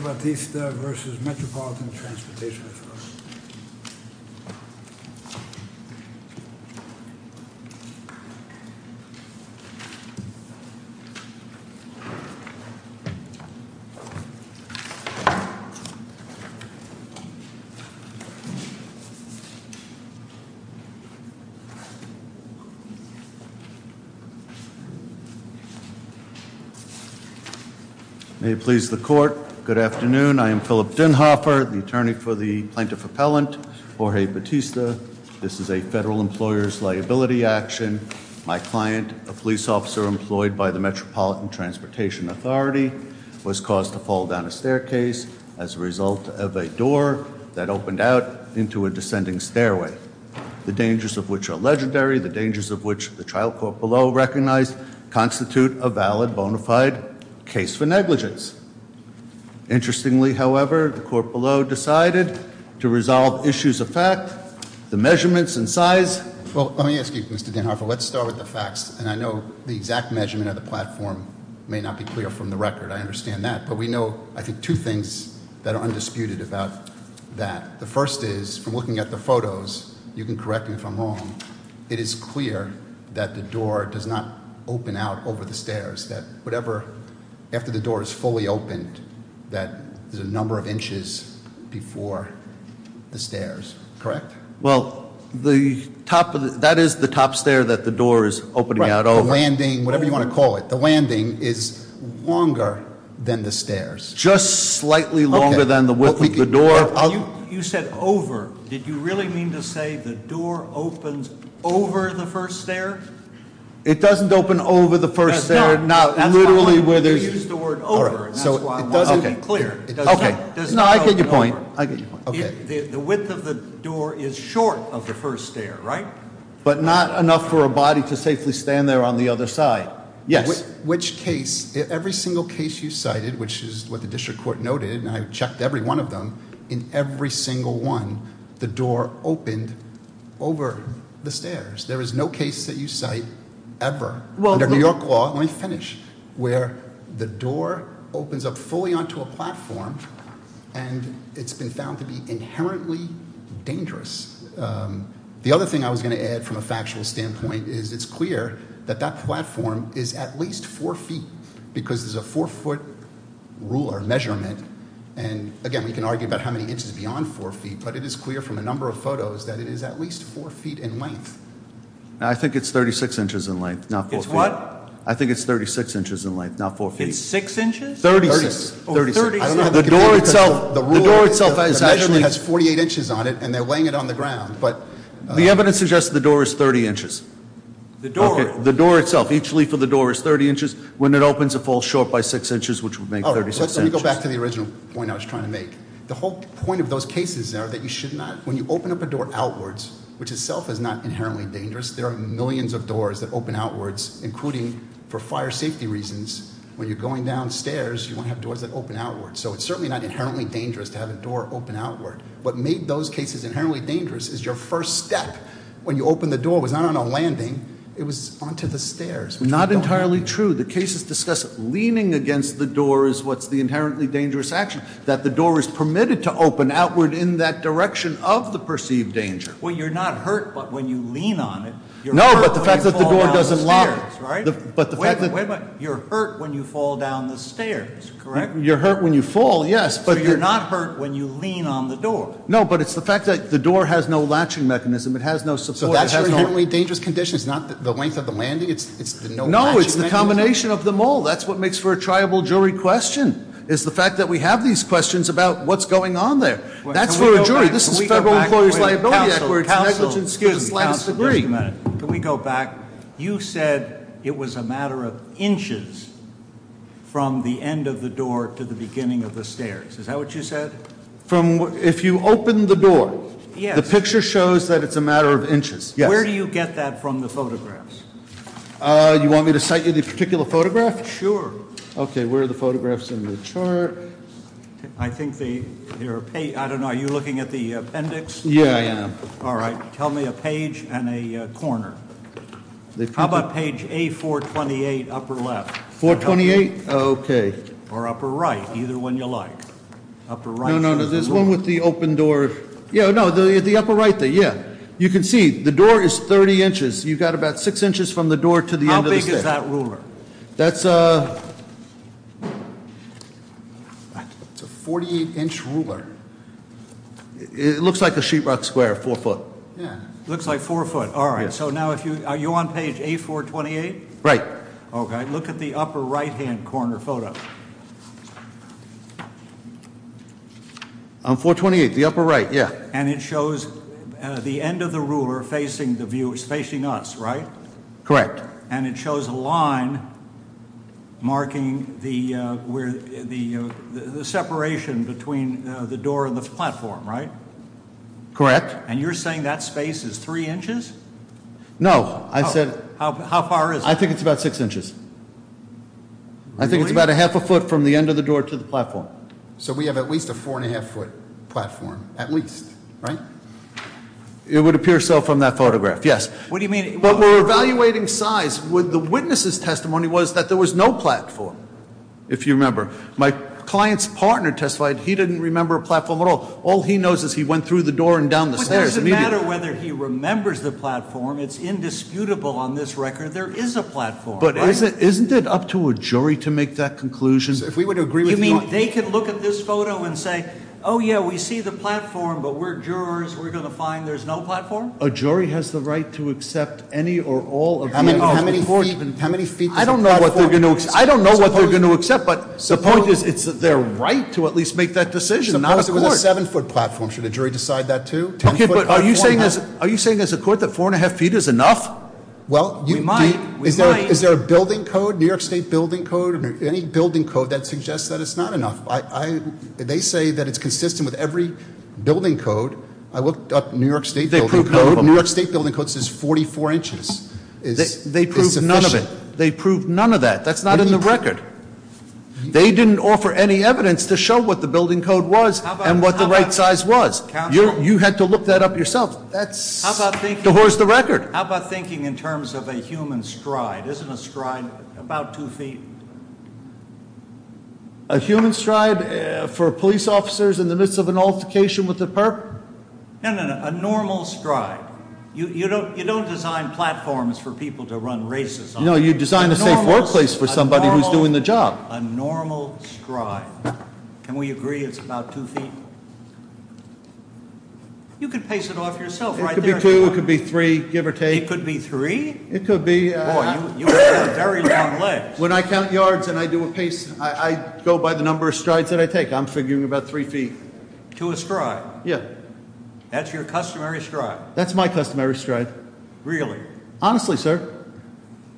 May it please the Court, Mr. Bautista v. Metropolitan Transportation Authority. Good afternoon, I am Philip Denhoffer, the attorney for the Plaintiff Appellant, Jorge Bautista. This is a federal employer's liability action. My client, a police officer employed by the Metropolitan Transportation Authority, was caused to fall down a staircase as a result of a door that opened out into a descending stairway. The dangers of which are legendary, the dangers of which the trial court below recognized constitute a valid bona fide case for negligence. Interestingly, however, the court below decided to resolve issues of fact, the measurements and size. Well, let me ask you, Mr. Denhoffer, let's start with the facts. And I know the exact measurement of the platform may not be clear from the record, I understand that. But we know, I think, two things that are undisputed about that. The first is, from looking at the photos, you can correct me if I'm wrong, it is clear that the door does not open out over the stairs. Whatever, after the door is fully opened, that there's a number of inches before the stairs, correct? Well, that is the top stair that the door is opening out over. The landing, whatever you want to call it, the landing is longer than the stairs. Just slightly longer than the width of the door. You said over, did you really mean to say the door opens over the first stair? It doesn't open over the first stair, no, literally where there's- You used the word over, and that's why I'm not clear. Okay, no, I get your point. I get your point. The width of the door is short of the first stair, right? But not enough for a body to safely stand there on the other side. Yes. Which case, every single case you cited, which is what the district court noted, and I've checked every one of them. In every single one, the door opened over the stairs. There is no case that you cite ever under New York law, let me finish, where the door opens up fully onto a platform, and it's been found to be inherently dangerous. The other thing I was going to add from a factual standpoint is it's clear that that platform is at least four feet, because there's a four foot ruler measurement, and again, we can argue about how many inches beyond four feet. But it is clear from a number of photos that it is at least four feet in length. I think it's 36 inches in length, not four feet. It's what? I think it's 36 inches in length, not four feet. It's six inches? 36. 36. I don't know how to compare, because the ruler, the measurement has 48 inches on it, and they're weighing it on the ground, but- The evidence suggests the door is 30 inches. The door. The door itself. Each leaf of the door is 30 inches. When it opens, it falls short by six inches, which would make 36 inches. Let me go back to the original point I was trying to make. The whole point of those cases are that you should not, when you open up a door outwards, which itself is not inherently dangerous. There are millions of doors that open outwards, including for fire safety reasons, when you're going downstairs, you want to have doors that open outwards. So it's certainly not inherently dangerous to have a door open outward. What made those cases inherently dangerous is your first step. When you open the door, it was not on a landing, it was onto the stairs. Not entirely true. The cases discuss leaning against the door is what's the inherently dangerous action. That the door is permitted to open outward in that direction of the perceived danger. Well, you're not hurt, but when you lean on it, you're hurt when you fall down the stairs, right? No, but the fact that the door doesn't lock. But the fact that- You're hurt when you fall down the stairs, correct? You're hurt when you fall, yes, but- So you're not hurt when you lean on the door. No, but it's the fact that the door has no latching mechanism. It has no support. So that's your inherently dangerous condition? It's not the length of the landing? It's the no latching mechanism? No, it's the combination of them all. That's what makes for a triable jury question. Is the fact that we have these questions about what's going on there. That's for a jury. This is Federal Employer's Liability Act where it's negligent to the slightest degree. Can we go back? You said it was a matter of inches from the end of the door to the beginning of the stairs. Is that what you said? From, if you open the door, the picture shows that it's a matter of inches. Yes. Where do you get that from the photographs? You want me to cite you the particular photograph? Sure. Okay, where are the photographs in the chart? I think they're, I don't know, are you looking at the appendix? Yeah, I am. All right, tell me a page and a corner. How about page A428, upper left? 428, okay. Or upper right, either one you like. Upper right. No, no, no, there's one with the open door. Yeah, no, the upper right there, yeah. You can see, the door is 30 inches. You've got about six inches from the door to the end of the stair. How big is that ruler? That's a 48 inch ruler. It looks like a sheet rock square, four foot. Yeah. Looks like four foot. All right, so now if you, are you on page A428? Right. Okay, look at the upper right hand corner photo. On 428, the upper right, yeah. And it shows the end of the ruler facing the viewer, it's facing us, right? Correct. And it shows a line marking the separation between the door and the platform, right? Correct. And you're saying that space is three inches? No, I said. How far is it? I think it's about six inches. I think it's about a half a foot from the end of the door to the platform. So we have at least a four and a half foot platform, at least, right? It would appear so from that photograph, yes. What do you mean? But we're evaluating size with the witness's testimony was that there was no platform, if you remember. My client's partner testified he didn't remember a platform at all. All he knows is he went through the door and down the stairs immediately. But it doesn't matter whether he remembers the platform, it's indisputable on this record there is a platform, right? But isn't it up to a jury to make that conclusion? So if we would agree with you on- You mean they can look at this photo and say, yeah, we see the platform, but we're jurors, we're going to find there's no platform? A jury has the right to accept any or all of the- How many feet is the platform? I don't know what they're going to accept, but the point is it's their right to at least make that decision, not a court. Suppose it was a seven foot platform, should a jury decide that too? Okay, but are you saying as a court that four and a half feet is enough? Well, is there a building code, New York State building code, or any building code that suggests that it's not enough? They say that it's consistent with every building code. I looked up New York State- The New York State building code says 44 inches is sufficient. They proved none of it. They proved none of that. That's not in the record. They didn't offer any evidence to show what the building code was and what the right size was. You had to look that up yourself. That's to horse the record. How about thinking in terms of a human stride? Isn't a stride about two feet? A human stride for police officers in the midst of an altercation with a perp? No, no, no, a normal stride. You don't design platforms for people to run races on. No, you design a safe workplace for somebody who's doing the job. A normal stride. Can we agree it's about two feet? You can pace it off yourself right there. It could be two, it could be three, give or take. It could be three? It could be- Boy, you have very long legs. When I count yards and I do a pace, I go by the number of strides that I take. I'm figuring about three feet. To a stride? Yeah. That's your customary stride? That's my customary stride. Really? Honestly, sir.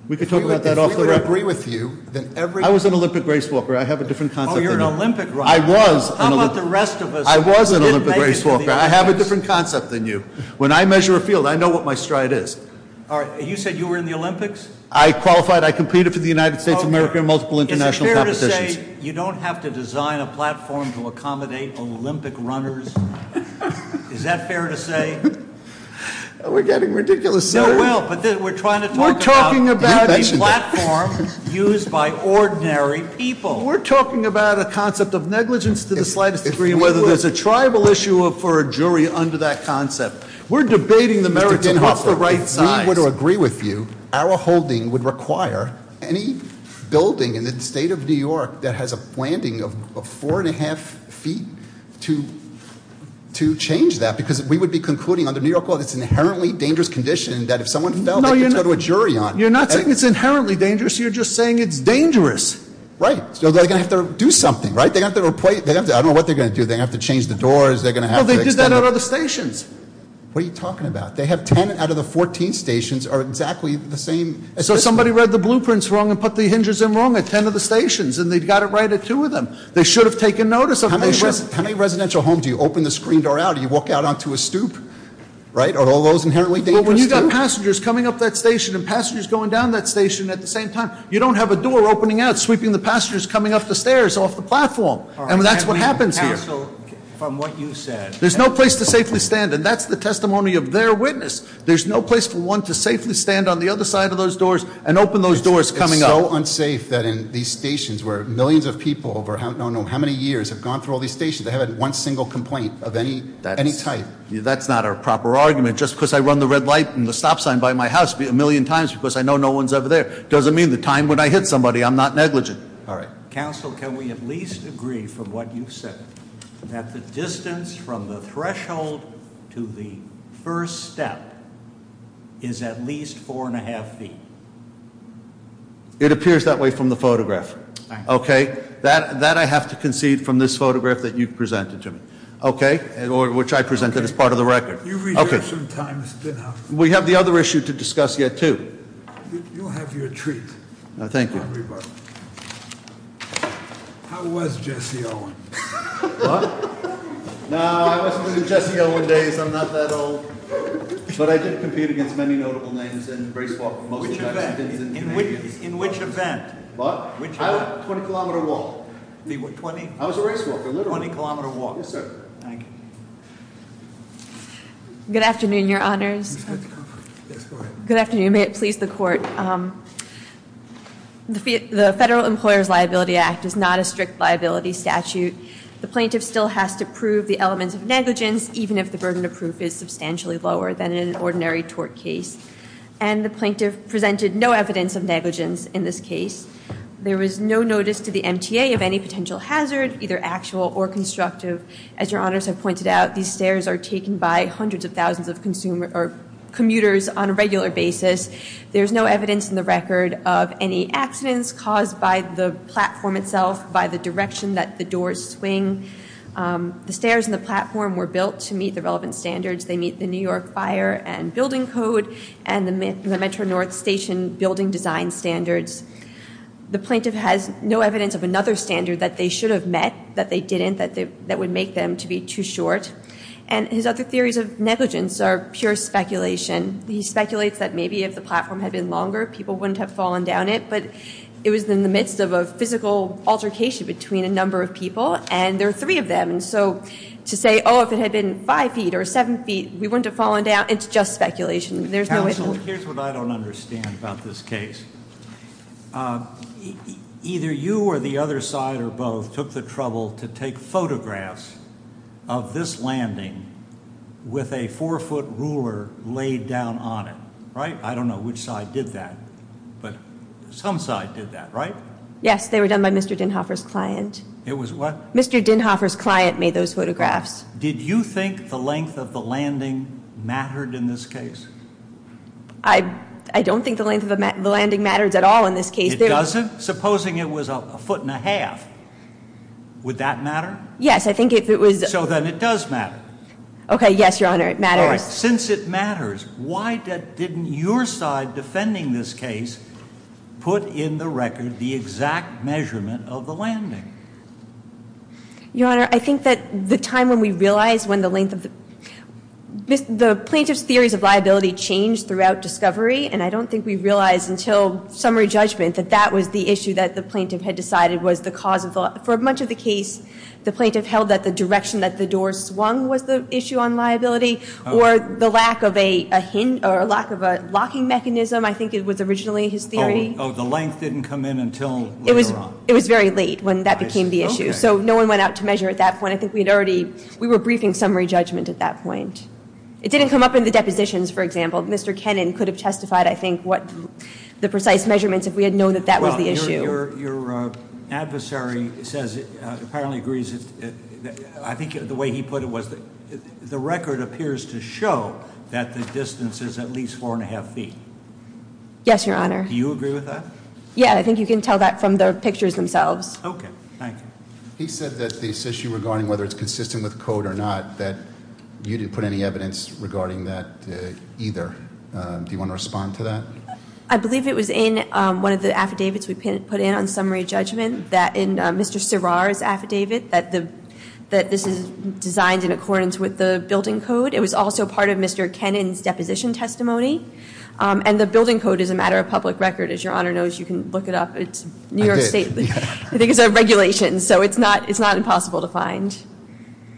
We could talk about that off the record. We would agree with you that every- I was an Olympic race walker. I have a different concept than you. You're an Olympic runner. I was an Olympic race walker. I was an Olympic race walker. I have a different concept than you. When I measure a field, I know what my stride is. You said you were in the Olympics? I qualified. I competed for the United States of America in multiple international competitions. You say you don't have to design a platform to accommodate Olympic runners? Is that fair to say? We're getting ridiculous, sir. No, well, but we're trying to talk about- We're talking about- You mentioned it. A platform used by ordinary people. We're talking about a concept of negligence to the slightest degree, whether there's a tribal issue for a jury under that concept. We're debating the merits of what's the right size. We would agree with you, our holding would require any building in the state of New York that has a landing of four and a half feet to change that. Because we would be concluding under New York law that it's an inherently dangerous condition that if someone fell, they could go to a jury on it. You're not saying it's inherently dangerous, you're just saying it's dangerous. Right, so they're going to have to do something, right? They're going to have to replace, I don't know what they're going to do. They're going to have to change the doors. They're going to have to extend- No, they did that at other stations. What are you talking about? They have ten out of the 14 stations are exactly the same. So somebody read the blueprints wrong and put the hinges in wrong at ten of the stations, and they got it right at two of them. They should have taken notice of it. How many residential homes do you open the screen door out, do you walk out onto a stoop? Right, are all those inherently dangerous too? Well, when you've got passengers coming up that station and passengers going down that station at the same time, you don't have a door opening out sweeping the passengers coming up the stairs off the platform. And that's what happens here. From what you said. There's no place to safely stand, and that's the testimony of their witness. There's no place for one to safely stand on the other side of those doors and open those doors coming up. It's so unsafe that in these stations where millions of people over, I don't know how many years, have gone through all these stations. They haven't had one single complaint of any type. That's not a proper argument. Just because I run the red light and the stop sign by my house a million times because I know no one's ever there, doesn't mean the time when I hit somebody I'm not negligent. All right. Council, can we at least agree from what you've said that the distance from the threshold to the first step is at least four and a half feet? It appears that way from the photograph. Okay, that I have to concede from this photograph that you've presented to me. Okay, or which I presented as part of the record. Okay. We have the other issue to discuss yet too. You have your treat. Thank you. How was Jesse Owen? What? No, I wasn't living Jesse Owen days. I'm not that old. But I did compete against many notable names in race walk. Most of the time. In which event? What? I went 20 kilometer walk. I was a race walker, literally. 20 kilometer walk. Yes, sir. Thank you. Good afternoon, your honors. Yes, go ahead. Good afternoon, may it please the court. The Federal Employer's Liability Act is not a strict liability statute. The plaintiff still has to prove the elements of negligence, even if the burden of proof is substantially lower than in an ordinary tort case. And the plaintiff presented no evidence of negligence in this case. There was no notice to the MTA of any potential hazard, either actual or constructive. As your honors have pointed out, these stairs are taken by hundreds of thousands of commuters on a regular basis. There's no evidence in the record of any accidents caused by the platform itself, by the direction that the doors swing. The stairs in the platform were built to meet the relevant standards. They meet the New York Fire and Building Code and the Metro North Station building design standards. The plaintiff has no evidence of another standard that they should have met, that they didn't, that would make them to be too short. And his other theories of negligence are pure speculation. He speculates that maybe if the platform had been longer, people wouldn't have fallen down it. But it was in the midst of a physical altercation between a number of people, and there are three of them. And so to say, if it had been five feet or seven feet, we wouldn't have fallen down, it's just speculation. There's no evidence. Here's what I don't understand about this case. Either you or the other side or both took the trouble to take photographs of this landing with a four foot ruler laid down on it, right? I don't know which side did that, but some side did that, right? Yes, they were done by Mr. Dinhoffer's client. It was what? Mr. Dinhoffer's client made those photographs. Did you think the length of the landing mattered in this case? I don't think the length of the landing matters at all in this case. It doesn't? Supposing it was a foot and a half, would that matter? Yes, I think if it was- So then it does matter. Okay, yes, your honor, it matters. Since it matters, why didn't your side defending this case put in the record the exact measurement of the landing? Your honor, I think that the time when we realized when the length of the, the plaintiff's theories of liability changed throughout discovery, and I don't think we realized until summary judgment that that was the issue that the plaintiff had decided was the cause of the, for much of the case, the plaintiff held that the direction that the door swung was the issue on liability, or the lack of a hint, or lack of a locking mechanism, I think it was originally his theory. The length didn't come in until later on. It was very late when that became the issue, so no one went out to measure at that point. I think we had already, we were briefing summary judgment at that point. It didn't come up in the depositions, for example. Mr. Kennan could have testified, I think, what the precise measurements if we had known that that was the issue. Your adversary says, apparently agrees, I think the way he put it was the record appears to show that the distance is at least four and a half feet. Yes, your honor. Do you agree with that? Yeah, I think you can tell that from the pictures themselves. Okay, thank you. He said that this issue regarding whether it's consistent with code or not, that you didn't put any evidence regarding that either. Do you want to respond to that? I believe it was in one of the affidavits we put in on summary judgment, that in Mr. Serrar's affidavit, that this is designed in accordance with the building code. It was also part of Mr. Kennan's deposition testimony. And the building code is a matter of public record, as your honor knows. You can look it up. It's New York State. I think it's a regulation, so it's not impossible to find.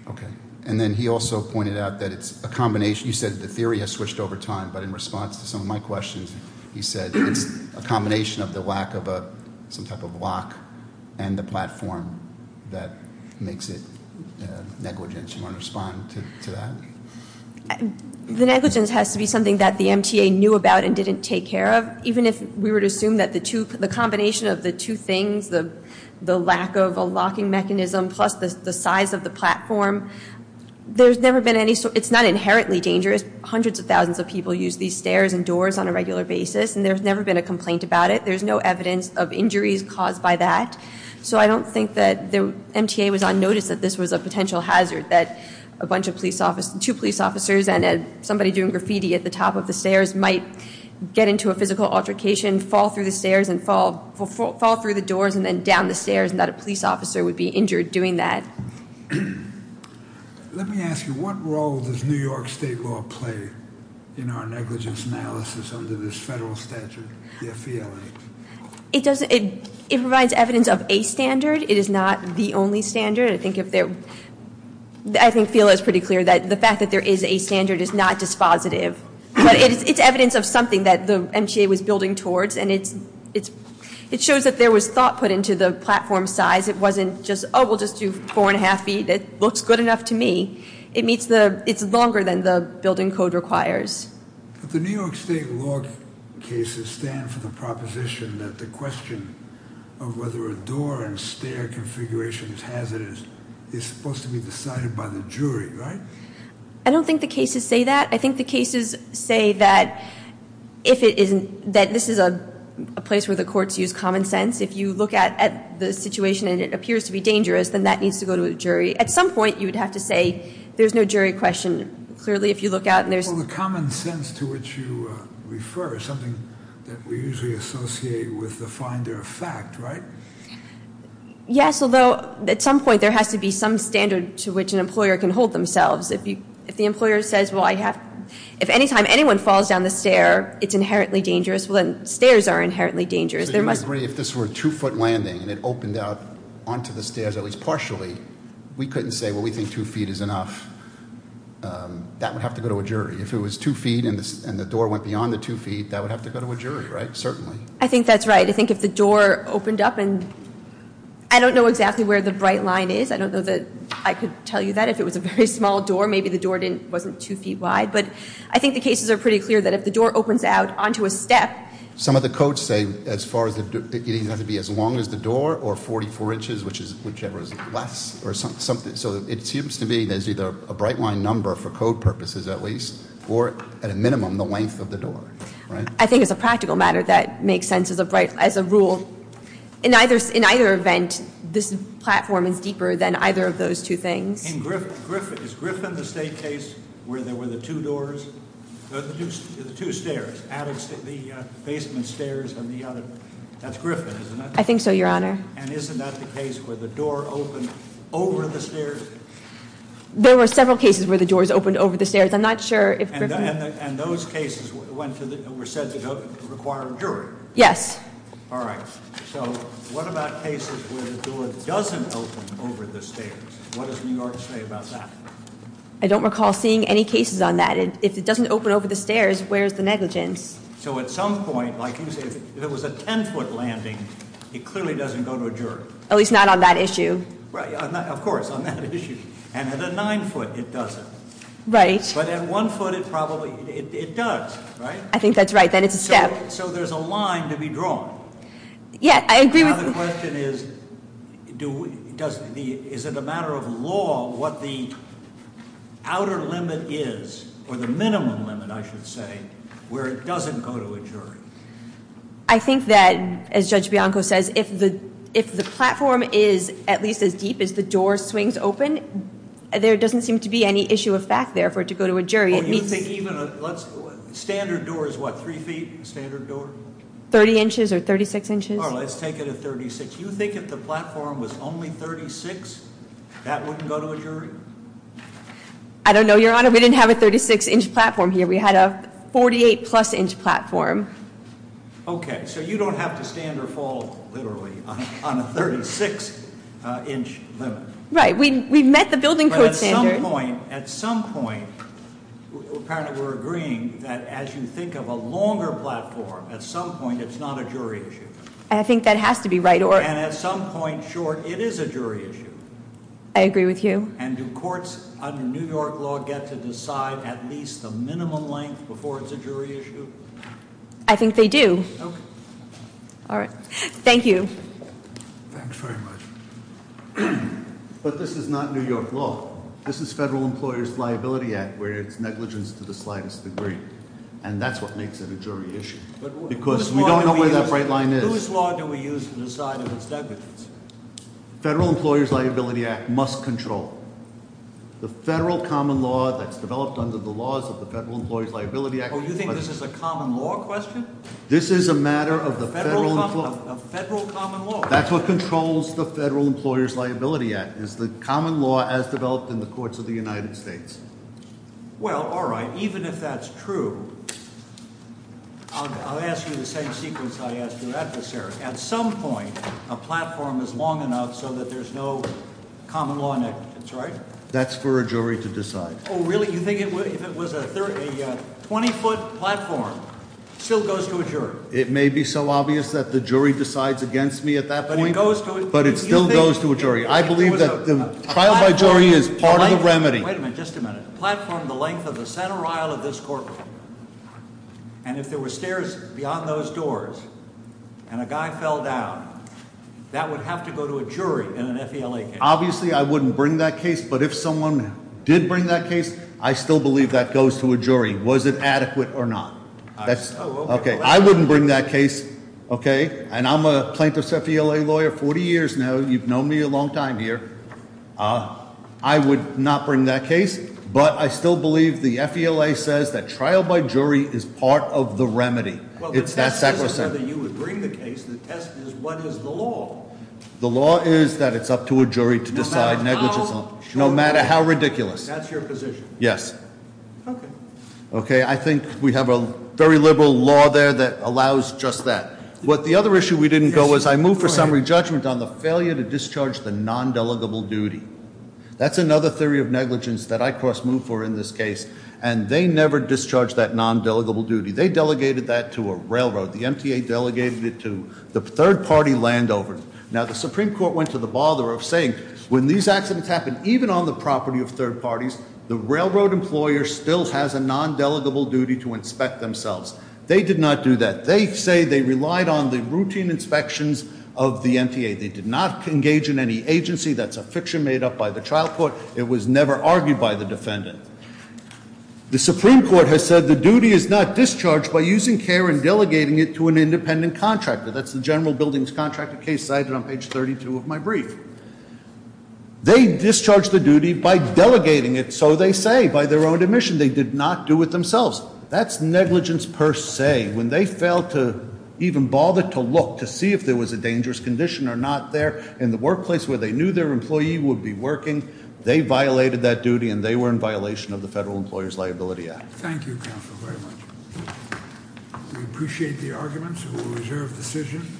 Okay, and then he also pointed out that it's a combination. You said the theory has switched over time, but in response to some of my questions, he said it's a combination of the lack of some type of lock and the platform that makes it negligent. Do you want to respond to that? The negligence has to be something that the MTA knew about and didn't take care of. Even if we were to assume that the combination of the two things, the lack of a locking mechanism plus the size of the platform. There's never been any, it's not inherently dangerous. Hundreds of thousands of people use these stairs and doors on a regular basis, and there's never been a complaint about it. There's no evidence of injuries caused by that. So I don't think that the MTA was on notice that this was a potential hazard that a bunch of two police officers and somebody doing graffiti at the top of the stairs might get into a physical altercation, fall through the stairs, and fall through the doors, and then down the stairs, and that a police officer would be injured doing that. Let me ask you, what role does New York state law play in our negligence analysis under this federal statute, the FELA? It provides evidence of a standard, it is not the only standard. I think FELA is pretty clear that the fact that there is a standard is not dispositive. But it's evidence of something that the MTA was building towards, and it shows that there was thought put into the platform size. It wasn't just, we'll just do four and a half feet, it looks good enough to me. It's longer than the building code requires. But the New York state law cases stand for the proposition that the question of whether a door and stair configuration is hazardous is supposed to be decided by the jury, right? I don't think the cases say that. I think the cases say that if it isn't, that this is a place where the courts use common sense. If you look at the situation and it appears to be dangerous, then that needs to go to a jury. At some point, you would have to say, there's no jury question. Clearly, if you look out and there's- Well, the common sense to which you refer is something that we usually associate with the finder of fact, right? Yes, although at some point, there has to be some standard to which an employer can hold themselves. If the employer says, well, I have, if anytime anyone falls down the stair, it's inherently dangerous. Well then, stairs are inherently dangerous. There must- If this were a two foot landing and it opened out onto the stairs, at least partially, we couldn't say, well, we think two feet is enough. That would have to go to a jury. If it was two feet and the door went beyond the two feet, that would have to go to a jury, right? Certainly. I think that's right. I think if the door opened up and, I don't know exactly where the bright line is. I don't know that I could tell you that. If it was a very small door, maybe the door wasn't two feet wide. But I think the cases are pretty clear that if the door opens out onto a step. Some of the codes say, as far as, it either has to be as long as the door or 44 inches, whichever is less or something. So it seems to be there's either a bright line number for code purposes at least, or at a minimum, the length of the door, right? I think it's a practical matter that makes sense as a rule. In either event, this platform is deeper than either of those two things. In Griffin, is Griffin the state case where there were the two doors, the two stairs, out of the basement stairs on the other, that's Griffin, isn't it? I think so, your honor. And isn't that the case where the door opened over the stairs? There were several cases where the doors opened over the stairs. I'm not sure if Griffin- And those cases were said to require a jury. Yes. All right, so what about cases where the door doesn't open over the stairs? What does New York say about that? I don't recall seeing any cases on that. If it doesn't open over the stairs, where's the negligence? So at some point, like you said, if it was a ten foot landing, it clearly doesn't go to a jury. At least not on that issue. Right, of course, on that issue. And at a nine foot, it doesn't. Right. But at one foot, it probably, it does, right? I think that's right, then it's a step. So there's a line to be drawn. Yeah, I agree with- Now the question is, is it a matter of law what the outer limit is, or the minimum limit, I should say, where it doesn't go to a jury? I think that, as Judge Bianco says, if the platform is at least as deep as the door swings open, there doesn't seem to be any issue of fact there for it to go to a jury. It means- You think even a, let's, standard door is what, three feet, standard door? 30 inches or 36 inches. All right, let's take it at 36. You think if the platform was only 36, that wouldn't go to a jury? I don't know, Your Honor, we didn't have a 36 inch platform here. We had a 48 plus inch platform. Okay, so you don't have to stand or fall, literally, on a 36 inch limit. Right, we've met the building code standard. At some point, apparently we're agreeing that as you think of a longer platform, at some point, it's not a jury issue. I think that has to be right, or- And at some point, sure, it is a jury issue. I agree with you. And do courts under New York law get to decide at least the minimum length before it's a jury issue? I think they do. Okay. All right, thank you. Thanks very much. But this is not New York law. This is Federal Employer's Liability Act, where it's negligence to the slightest degree. And that's what makes it a jury issue, because we don't know where that bright line is. But whose law do we use to decide if it's negligence? Federal Employer's Liability Act must control. The federal common law that's developed under the laws of the Federal Employer's Liability Act- Oh, you think this is a common law question? This is a matter of the federal- A federal common law. That's what controls the Federal Employer's Liability Act, is the common law as developed in the courts of the United States. Well, all right, even if that's true, I'll ask you the same sequence I asked your adversary. At some point, a platform is long enough so that there's no common law negligence, right? That's for a jury to decide. Really? You think if it was a 20 foot platform, it still goes to a jury? It may be so obvious that the jury decides against me at that point, but it still goes to a jury. I believe that the trial by jury is part of the remedy. Wait a minute, just a minute. Platform the length of the center aisle of this courtroom. And if there were stairs beyond those doors, and a guy fell down, that would have to go to a jury in an FELA case. Obviously, I wouldn't bring that case, but if someone did bring that case, I still believe that goes to a jury. Was it adequate or not? That's, okay, I wouldn't bring that case, okay? And I'm a plaintiff's FELA lawyer 40 years now, you've known me a long time here. I would not bring that case, but I still believe the FELA says that trial by jury is part of the remedy. It's that sacrosanct. Well, it's not whether you would bring the case, the test is what is the law? The law is that it's up to a jury to decide negligence on it, no matter how ridiculous. That's your position? Yes. Okay. Okay, I think we have a very liberal law there that allows just that. But the other issue we didn't go was I moved for summary judgment on the failure to discharge the non-delegable duty. That's another theory of negligence that I cross moved for in this case, and they never discharged that non-delegable duty. They delegated that to a railroad. The MTA delegated it to the third party land over. Now, the Supreme Court went to the bother of saying, when these accidents happen, even on the property of third parties, the railroad employer still has a non-delegable duty to inspect themselves. They did not do that. They say they relied on the routine inspections of the MTA. They did not engage in any agency. That's a fiction made up by the trial court. It was never argued by the defendant. The Supreme Court has said the duty is not discharged by using care and delegating it to an independent contractor. That's the general buildings contractor case cited on page 32 of my brief. They discharged the duty by delegating it, so they say, by their own admission. They did not do it themselves. That's negligence per se. When they failed to even bother to look to see if there was a dangerous condition or not there in the workplace where they knew their employee would be working, they violated that duty. And they were in violation of the Federal Employer's Liability Act. Thank you, counsel, very much. We appreciate the arguments. We will reserve decision.